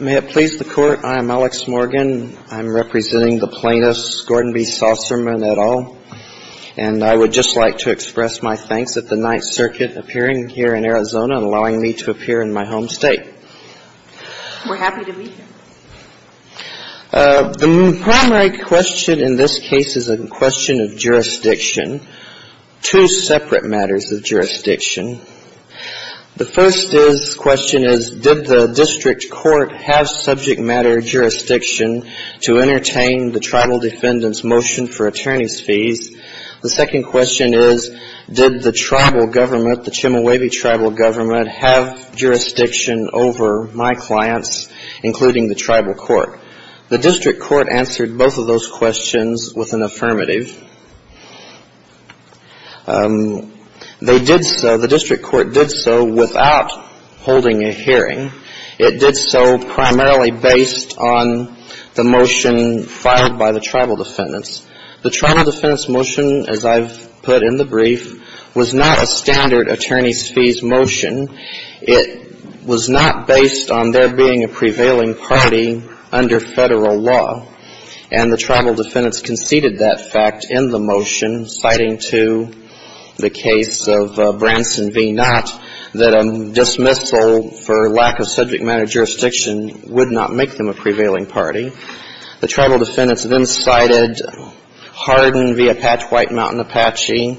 May it please the Court, I am Alex Morgan. I'm representing the plaintiffs, Gordon B. Saucerman et al., and I would just like to express my thanks at the Ninth Circuit appearing here in Arizona and allowing me to appear in my home state. We're happy to meet you. The primary question in this case is a question of jurisdiction, two separate matters of jurisdiction. The first question is did the district court have subject matter jurisdiction to entertain the tribal defendant's motion for attorney's fees? The second question is did the tribal government, the Chemehuevi tribal government, have jurisdiction over my clients, including the tribal court? The district court answered both of those questions with an affirmative. They did so, the district court did so without holding a hearing. It did so primarily based on the motion filed by the tribal defendants. The tribal defendants' motion, as I've put in the brief, was not a standard attorney's fees motion. It was not based on there being a prevailing party under Federal law. And the tribal defendants conceded that fact in the motion, citing to the case of Branson v. Knott that a dismissal for lack of subject matter jurisdiction would not make them a prevailing party. The tribal defendants then cited Hardin v. Apache White Mountain Apache,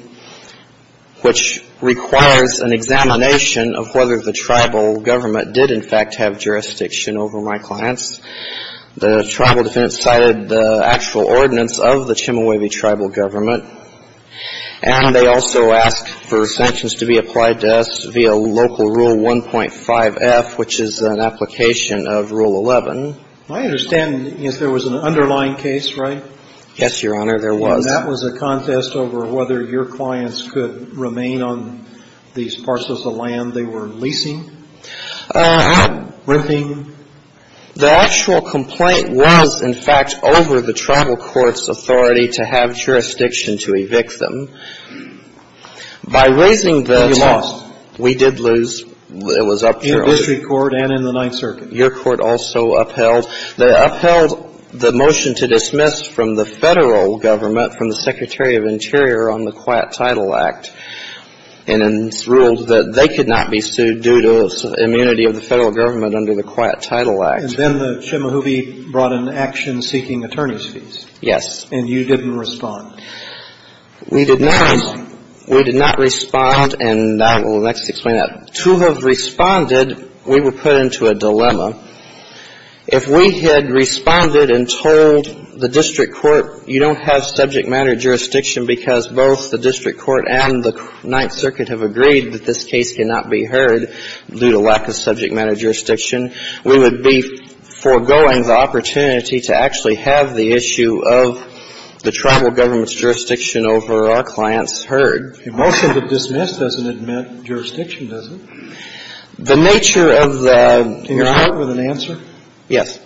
which requires an examination of whether the tribal government did, in fact, have jurisdiction over my clients. The tribal defendants cited the actual ordinance of the Chemehuevi tribal government. And they also asked for sanctions to be applied to us via local Rule 1.5F, which is an application of Rule 11. I understand there was an underlying case, right? Yes, Your Honor, there was. And that was a contest over whether your clients could remain on these parcels of land they were leasing? Ramping. The actual complaint was, in fact, over the tribal court's authority to have jurisdiction to evict them. By raising the test we did lose. It was upheld. And then the Chemehuevi brought an action seeking attorney's fees. Yes. And you didn't respond? We did not. We did not respond. And I will next explain that. To have responded, we were put into a dilemma. If we had responded and told the district court, you don't have subject matter jurisdiction because both the district court and the Ninth Circuit have agreed that this case cannot be heard due to lack of subject matter jurisdiction, we would be foregoing the opportunity to actually have the issue of the tribal government's jurisdiction over our clients heard. A motion to dismiss doesn't admit jurisdiction, does it? The nature of the ---- Can you start with an answer? Yes.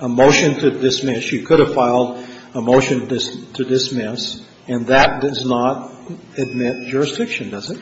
A motion to dismiss. You could have filed a motion to dismiss, and that does not admit jurisdiction, does it?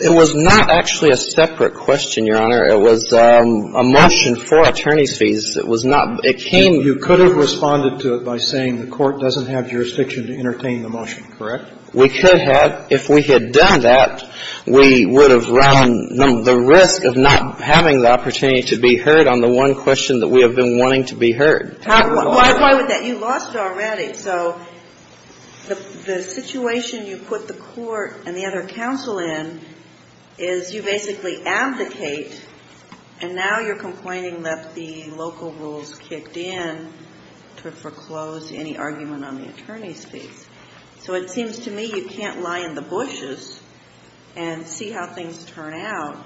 It was not actually a separate question, Your Honor. It was a motion for attorney's fees. It was not ---- You could have responded to it by saying the court doesn't have jurisdiction to entertain the motion, correct? We could have. If we had done that, we would have run the risk of not having the opportunity to be heard on the one question that we have been wanting to be heard. Why would that be? You lost it already. So the situation you put the court and the other counsel in is you basically abdicate, and now you're complaining that the local rules kicked in to foreclose any argument on the attorney's fees. So it seems to me you can't lie in the bushes and see how things turn out.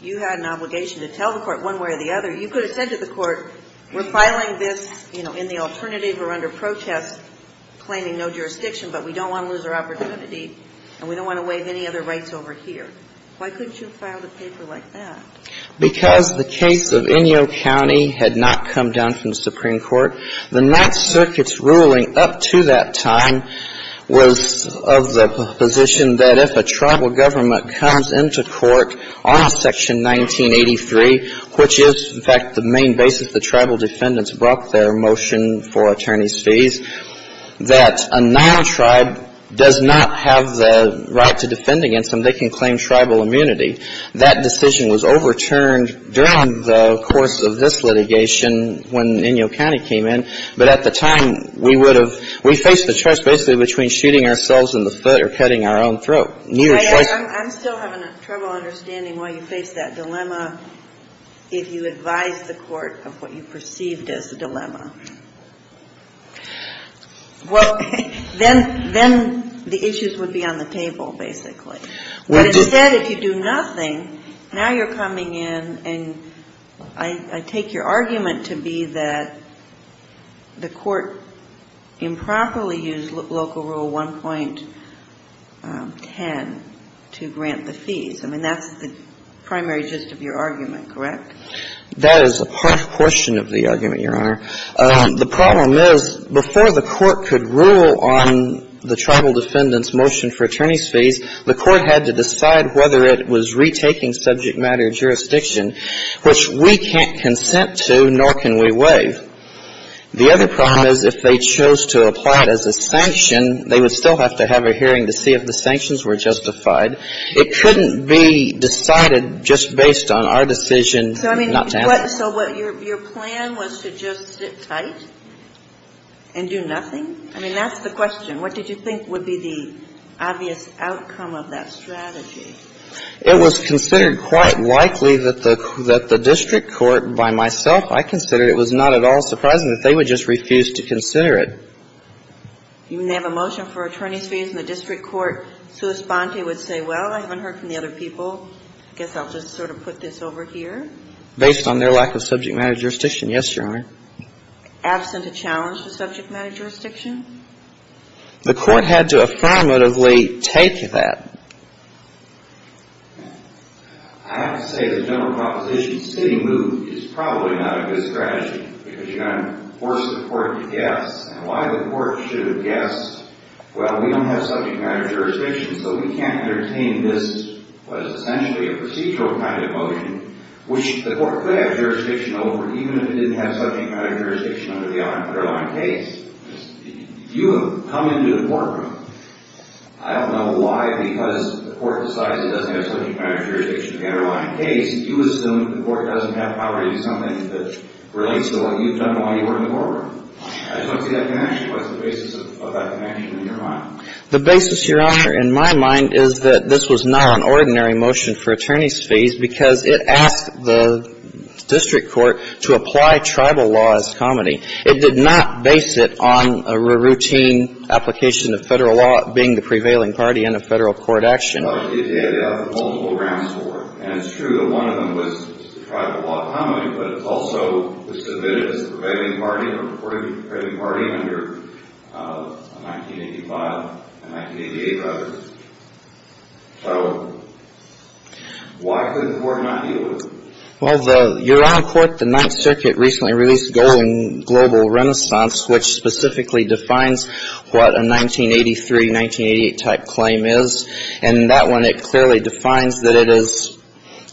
You had an obligation to tell the court one way or the other. You could have said to the court, we're filing this in the alternative or under protest, claiming no jurisdiction, but we don't want to lose our opportunity, and we don't want to waive any other rights over here. Why couldn't you have filed a paper like that? Because the case of Inyo County had not come down from the Supreme Court. The Ninth Circuit's ruling up to that time was of the position that if a tribal government comes into court on Section 1983, which is, in fact, the main basis the tribal defendants brought their motion for attorney's fees, that a non-tribe does not have the right to defend against them. They can claim tribal immunity. That decision was overturned during the course of this litigation when Inyo County came in, but at the time, we would have we faced the choice basically between shooting ourselves in the foot or cutting our own throat. Neither choice. I'm still having trouble understanding why you faced that dilemma if you advised the court of what you perceived as a dilemma. Well, then the issues would be on the table, basically. But instead, if you do nothing, now you're coming in and I take your argument to be that the court improperly used local rule 1.10 to grant the fees. I mean, that's the primary gist of your argument, correct? That is a part of the question of the argument, Your Honor. The problem is before the court could rule on the tribal defendants' motion for attorney's fees, the court had to decide whether it was retaking subject matter jurisdiction, which we can't consent to, nor can we waive. The other problem is if they chose to apply it as a sanction, they would still have to have a hearing to see if the sanctions were justified. It couldn't be decided just based on our decision not to have it. So your plan was to just sit tight and do nothing? I mean, that's the question. What did you think would be the obvious outcome of that strategy? It was considered quite likely that the district court, by myself, I considered it was not at all surprising that they would just refuse to consider it. You mean they have a motion for attorney's fees, and the district court, sua sponte, would say, well, I haven't heard from the other people. I guess I'll just sort of put this over here. Based on their lack of subject matter jurisdiction, yes, Your Honor. Absent a challenge to subject matter jurisdiction? The court had to affirmatively take that. I have to say the general proposition sitting moved is probably not a good strategy because you're going to force the court to guess. And why the court should have guessed, well, we don't have subject matter jurisdiction, so we can't entertain this, what is essentially a procedural kind of motion, which the court could have jurisdiction over even if it didn't have subject matter jurisdiction under the underlying case. If you have come into the courtroom, I don't know why, because the court decides it doesn't have subject matter jurisdiction in the underlying case, you assume the court doesn't have power to do something that relates to what you've done while you were in the courtroom. I don't see that connection. What's the basis of that connection in your mind? The basis, Your Honor, in my mind is that this was not an ordinary motion for attorneys' fees because it asked the district court to apply tribal law as comedy. It did not base it on a routine application of Federal law being the prevailing party in a Federal court action. Multiple grounds for it. And it's true that one of them was tribal law comedy, but it's also submitted as the prevailing party under a 1985, a 1988 record. So why could the court not deal with it? Well, Your Honor, the Ninth Circuit recently released the Golden Global Renaissance, which specifically defines what a 1983, 1988-type claim is. And in that one, it clearly defines that it is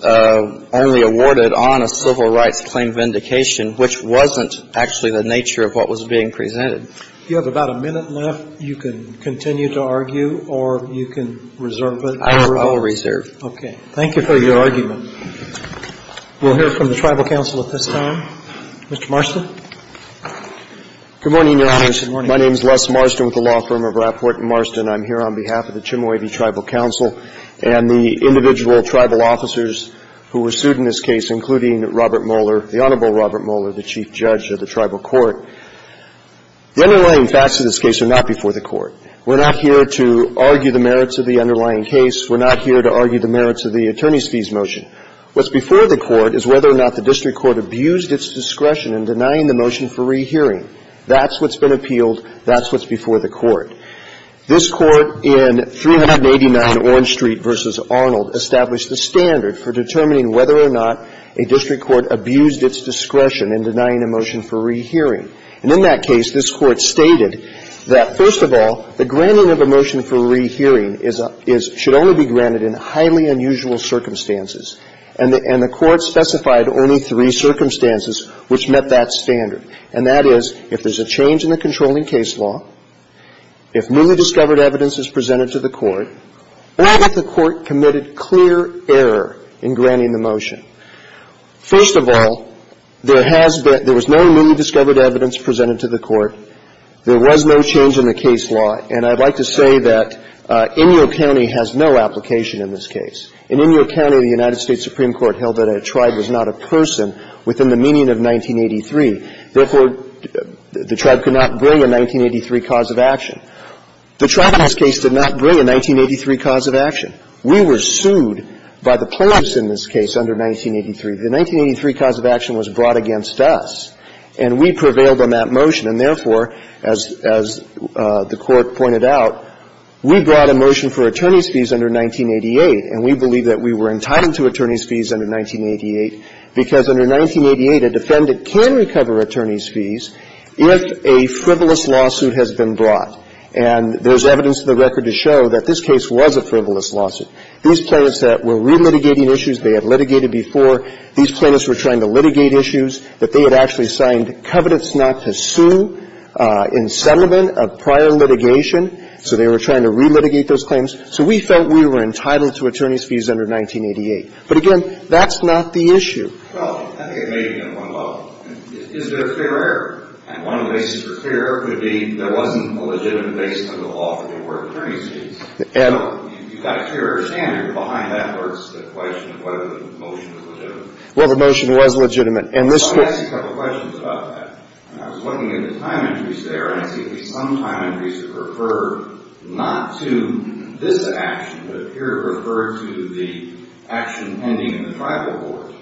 only awarded on a civil rights claim vindication, which wasn't actually the nature of what was being presented. If you have about a minute left, you can continue to argue, or you can reserve it. I will reserve. Okay. Thank you for your argument. We'll hear from the Tribal Council at this time. Mr. Marston. Good morning, Your Honors. Good morning. My name is Les Marston with the law firm of Rappaport & Marston. I'm here on behalf of the Chimoe V. Tribal Council and the individual tribal officers who were sued in this case, including Robert Moeller, the Honorable Robert Moeller, the Chief Judge of the Tribal Court. The underlying facts of this case are not before the Court. We're not here to argue the merits of the underlying case. We're not here to argue the merits of the attorneys' fees motion. What's before the Court is whether or not the district court abused its discretion in denying the motion for rehearing. That's what's been appealed. That's what's before the Court. This Court in 389 Orange Street v. Arnold established the standard for determining whether or not a district court abused its discretion in denying a motion for rehearing. And in that case, this Court stated that, first of all, the granting of a motion for rehearing should only be granted in highly unusual circumstances. And the Court specified only three circumstances which met that standard. And that is if there's a change in the controlling case law, if newly discovered evidence is presented to the Court, or if the Court committed clear error in granting the motion. First of all, there has been no newly discovered evidence presented to the Court. There was no change in the case law. And I'd like to say that Inyo County has no application in this case. In Inyo County, the United States Supreme Court held that a tribe was not a person within the meaning of 1983. Therefore, the tribe could not bring a 1983 cause of action. The tribe in this case did not bring a 1983 cause of action. We were sued by the plaintiffs in this case under 1983. The 1983 cause of action was brought against us, and we prevailed on that motion. And therefore, as the Court pointed out, we brought a motion for attorneys' fees under 1988. And we believe that we were entitled to attorneys' fees under 1988, because under 1988, a defendant can recover attorneys' fees if a frivolous lawsuit has been brought. And there's evidence in the record to show that this case was a frivolous lawsuit. These plaintiffs that were relitigating issues they had litigated before, these plaintiffs were trying to litigate issues that they had actually signed covenants not to sue in settlement of prior litigation. So they were trying to relitigate those claims. So we felt we were entitled to attorneys' fees under 1988. But again, that's not the issue. Well, I think it may be on one level. Is there a fair error? And one of the reasons for fair error would be there wasn't a legitimate basis under the law for the word attorneys' fees. And you've got a fair error standard behind that, or it's the question of whether the motion was legitimate. Well, the motion was legitimate. And this was the question. I want to ask you a couple of questions about that. I was looking at the time entries there, and I see at least some time entries that refer not to this action, but appear to refer to the action pending in the tribal board.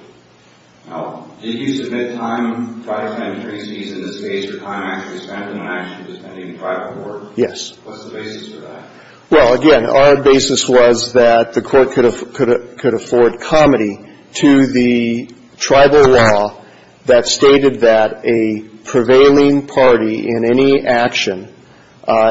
Now, did you submit time, trial time and attorneys' fees in this case for time actually spent on an action that was pending in the tribal board? Yes. What's the basis for that? Well, again, our basis was that the Court could afford comity to the tribal law that stated that a prevailing party in any action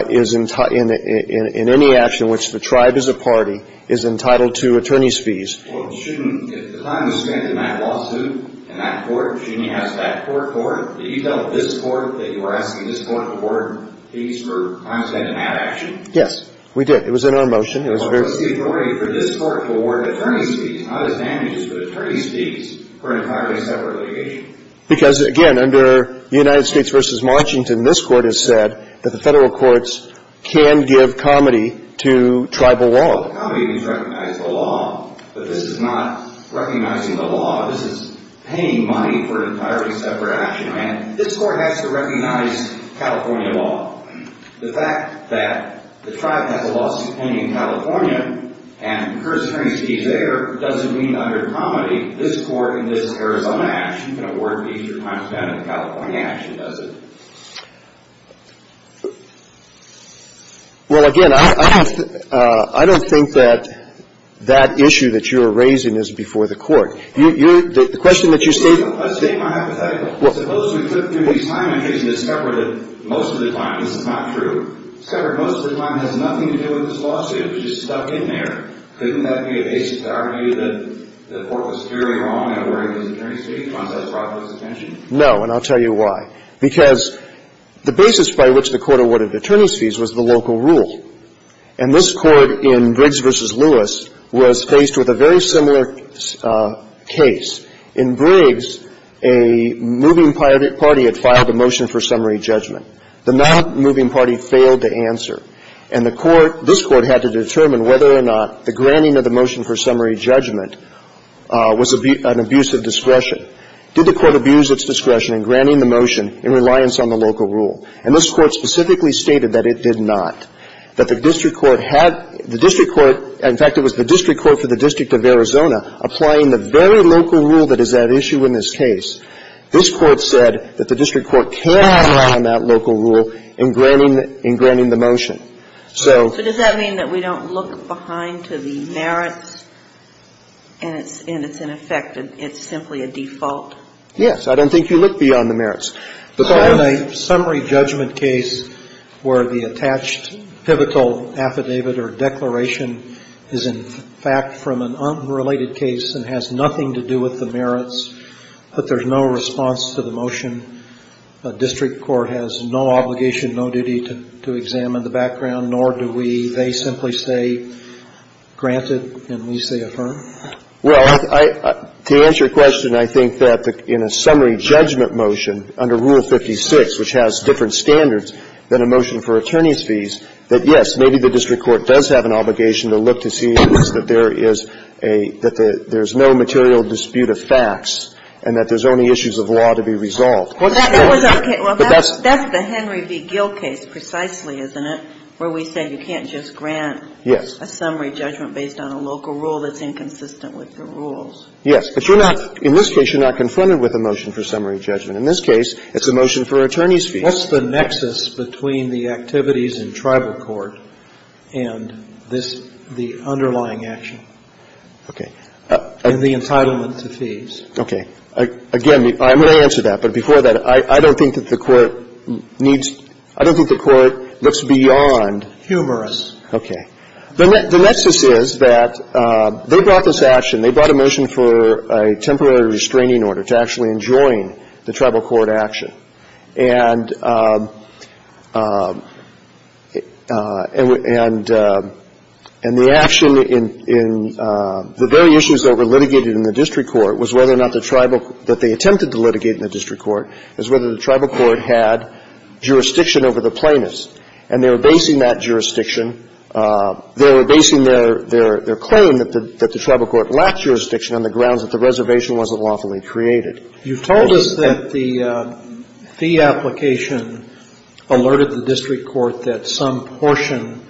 is in any action which the tribe is a party is entitled to attorneys' fees. Well, shouldn't, if the time was spent in that lawsuit, in that court, shouldn't you ask that court for it? Did you tell this court that you were asking this court for fees for time spent in that action? Yes, we did. It was in our motion. It was very clear. Well, what's the authority for this court to award attorneys' fees, not as damages, but attorneys' fees for an entirely separate litigation? Because, again, under the United States v. Washington, this Court has said that the Federal courts can give comity to tribal law. Well, comity means recognize the law, but this is not recognizing the law. This is paying money for an entirely separate action. I mean, this Court has to recognize California law. The fact that the tribe has a lawsuit pending in California and an attorney's fees there doesn't mean under comity, this Court in this Arizona action can award fees for time spent in a California action, does it? Well, again, I don't think that that issue that you are raising is before the Court. The question that you state. I state my hypothetical. Well, suppose we could do these time entries and discover that most of the time, this is not true, discover most of the time has nothing to do with this lawsuit. It was just stuck in there. Couldn't that be a basis to argue that the Court was clearly wrong in awarding these attorney's fees once that's brought to its attention? No, and I'll tell you why. Because the basis by which the Court awarded attorneys' fees was the local rule. And this Court in Briggs v. Lewis was faced with a very similar case. In Briggs, a moving party had filed a motion for summary judgment. The nonmoving party failed to answer. And the Court, this Court had to determine whether or not the granting of the motion for summary judgment was an abuse of discretion. Did the Court abuse its discretion in granting the motion in reliance on the local rule? And this Court specifically stated that it did not, that the district court had the district court, in fact, it was the district court for the District of Arizona applying the very local rule that is at issue in this case. This Court said that the district court cannot rely on that local rule in granting the motion. So does that mean that we don't look behind to the merits and it's ineffective, it's simply a default? Yes. I don't think you look beyond the merits. But in a summary judgment case where the attached pivotal affidavit or declaration is in fact from an unrelated case and has nothing to do with the merits, but there's no response to the motion, a district court has no obligation, no duty to examine the background, nor do we, they simply say granted and we say affirmed? Well, to answer your question, I think that in a summary judgment motion under Rule 56, which has different standards than a motion for attorney's fees, that yes, maybe the district court does have an obligation to look to see that there is a, that there's no material dispute of facts and that there's only issues of law to be resolved. Well, that's the Henry v. Gill case precisely, isn't it, where we say you can't just grant a summary judgment based on a local rule that's inconsistent with the rules. Yes. But you're not, in this case, you're not confronted with a motion for summary judgment. In this case, it's a motion for attorney's fees. What's the nexus between the activities in tribal court and this, the underlying action? Okay. And the entitlement to fees. Okay. Again, I'm going to answer that. But before that, I don't think that the Court needs, I don't think the Court looks beyond. Humorous. Okay. The nexus is that they brought this action, they brought a motion for a temporary restraining order to actually enjoin the tribal court action. And the action in the very issues that were litigated in the district court was whether or not the tribal, that they attempted to litigate in the district court, is whether the tribal court had jurisdiction over the plaintiffs. And they were basing that jurisdiction, they were basing their claim that the tribal court lacked jurisdiction on the grounds that the reservation wasn't lawfully created. You told us that the fee application alerted the district court that some portion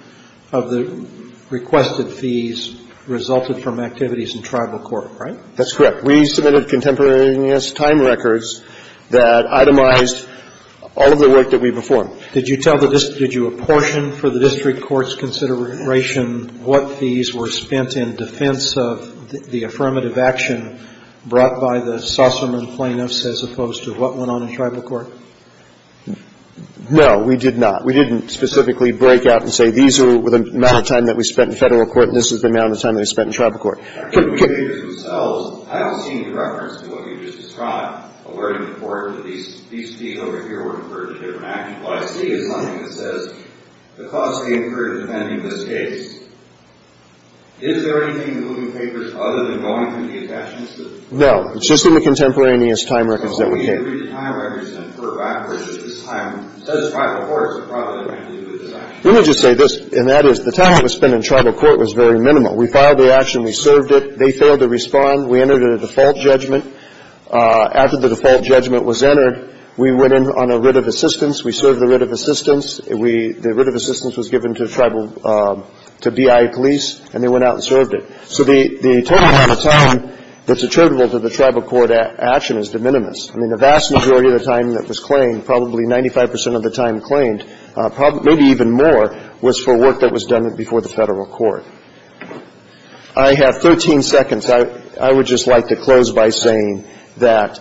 of the requested fees resulted from activities in tribal court, right? That's correct. We submitted contemporaneous time records that itemized all of the work that we performed. Did you tell the district, did you apportion for the district court's consideration what fees were spent in defense of the affirmative action brought by the Susserman plaintiffs as opposed to what went on in tribal court? No, we did not. We didn't specifically break out and say these are the amount of time that we spent in Federal court and this is the amount of time that we spent in tribal court. I don't see any reference to what you just described, alerting the court that these fees over here would refer to different actions. What I see is something that says the cost of the infringement in this case. Is there anything in the moving papers other than going through the attachments that we have? No. It's just in the contemporaneous time records that we have. So when we read the time records and put it backwards to this time, it says tribal courts are probably going to do this action. Let me just say this, and that is the time that was spent in tribal court was very short. We served it. They failed to respond. We entered a default judgment. After the default judgment was entered, we went in on a writ of assistance. We served the writ of assistance. The writ of assistance was given to BIA police, and they went out and served it. So the total amount of time that's attributable to the tribal court action is de minimis. I mean, the vast majority of the time that was claimed, probably 95 percent of the time claimed, maybe even more was for work that was done before the Federal court. I have 13 seconds. I would just like to close by saying that,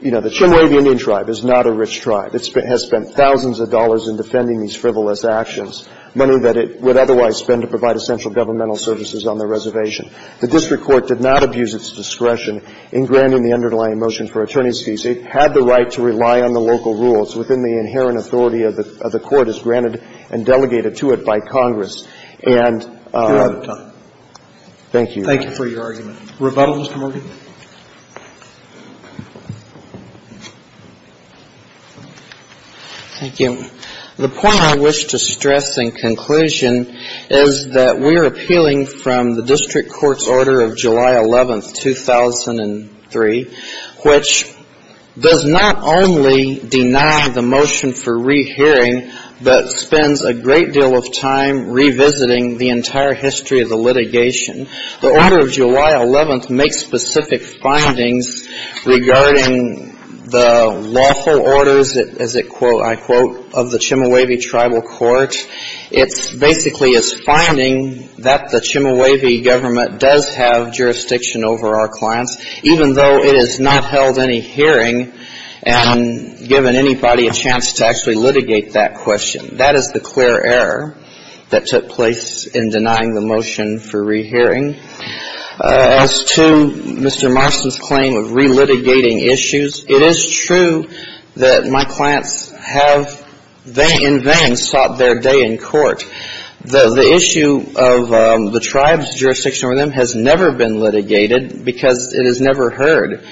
you know, the Chimoy of the Indian Tribe is not a rich tribe. It has spent thousands of dollars in defending these frivolous actions, money that it would otherwise spend to provide essential governmental services on the reservation. The district court did not abuse its discretion in granting the underlying motion for attorney's fees. It had the right to rely on the local rules within the inherent authority of the court as granted and delegated to it by Congress. And you're out of time. Thank you. Thank you for your argument. Rebuttal, Mr. Morgan. Thank you. The point I wish to stress in conclusion is that we are appealing from the district court's order of July 11th, 2003, which does not only deny the motion for rehearing but spends a great deal of time revisiting the entire history of the litigation. The order of July 11th makes specific findings regarding the lawful orders, as I quote, of the Chimoy Tribal Court. It basically is finding that the Chimoy government does have jurisdiction over our clients, even though it has not held any hearing and given anybody a chance to actually litigate that question. That is the clear error that took place in denying the motion for rehearing. As to Mr. Marston's claim of re-litigating issues, it is true that my clients have in vain sought their day in court. The issue of the tribe's jurisdiction over them has never been litigated because it is never heard.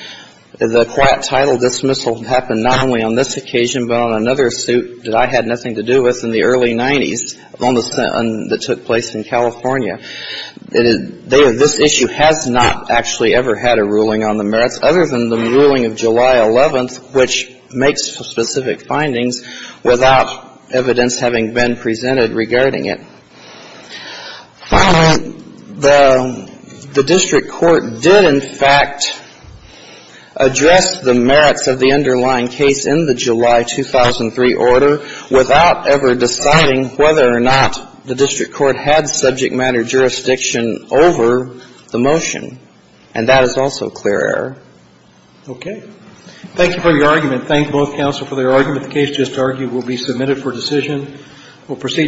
The quiet title dismissal happened not only on this occasion but on another suit that I had nothing to do with in the early 90s that took place in California. This issue has not actually ever had a ruling on the merits other than the ruling of July 11th, which makes specific findings without evidence having been presented regarding it. Finally, the district court did, in fact, address the merits of the underlying case in the July 2003 order without ever deciding whether or not the district court had subject matter jurisdiction over the motion, and that is also clear error. Okay. Thank you for your argument. Thank both counsel for their argument. The case just argued will be submitted for decision. We'll proceed.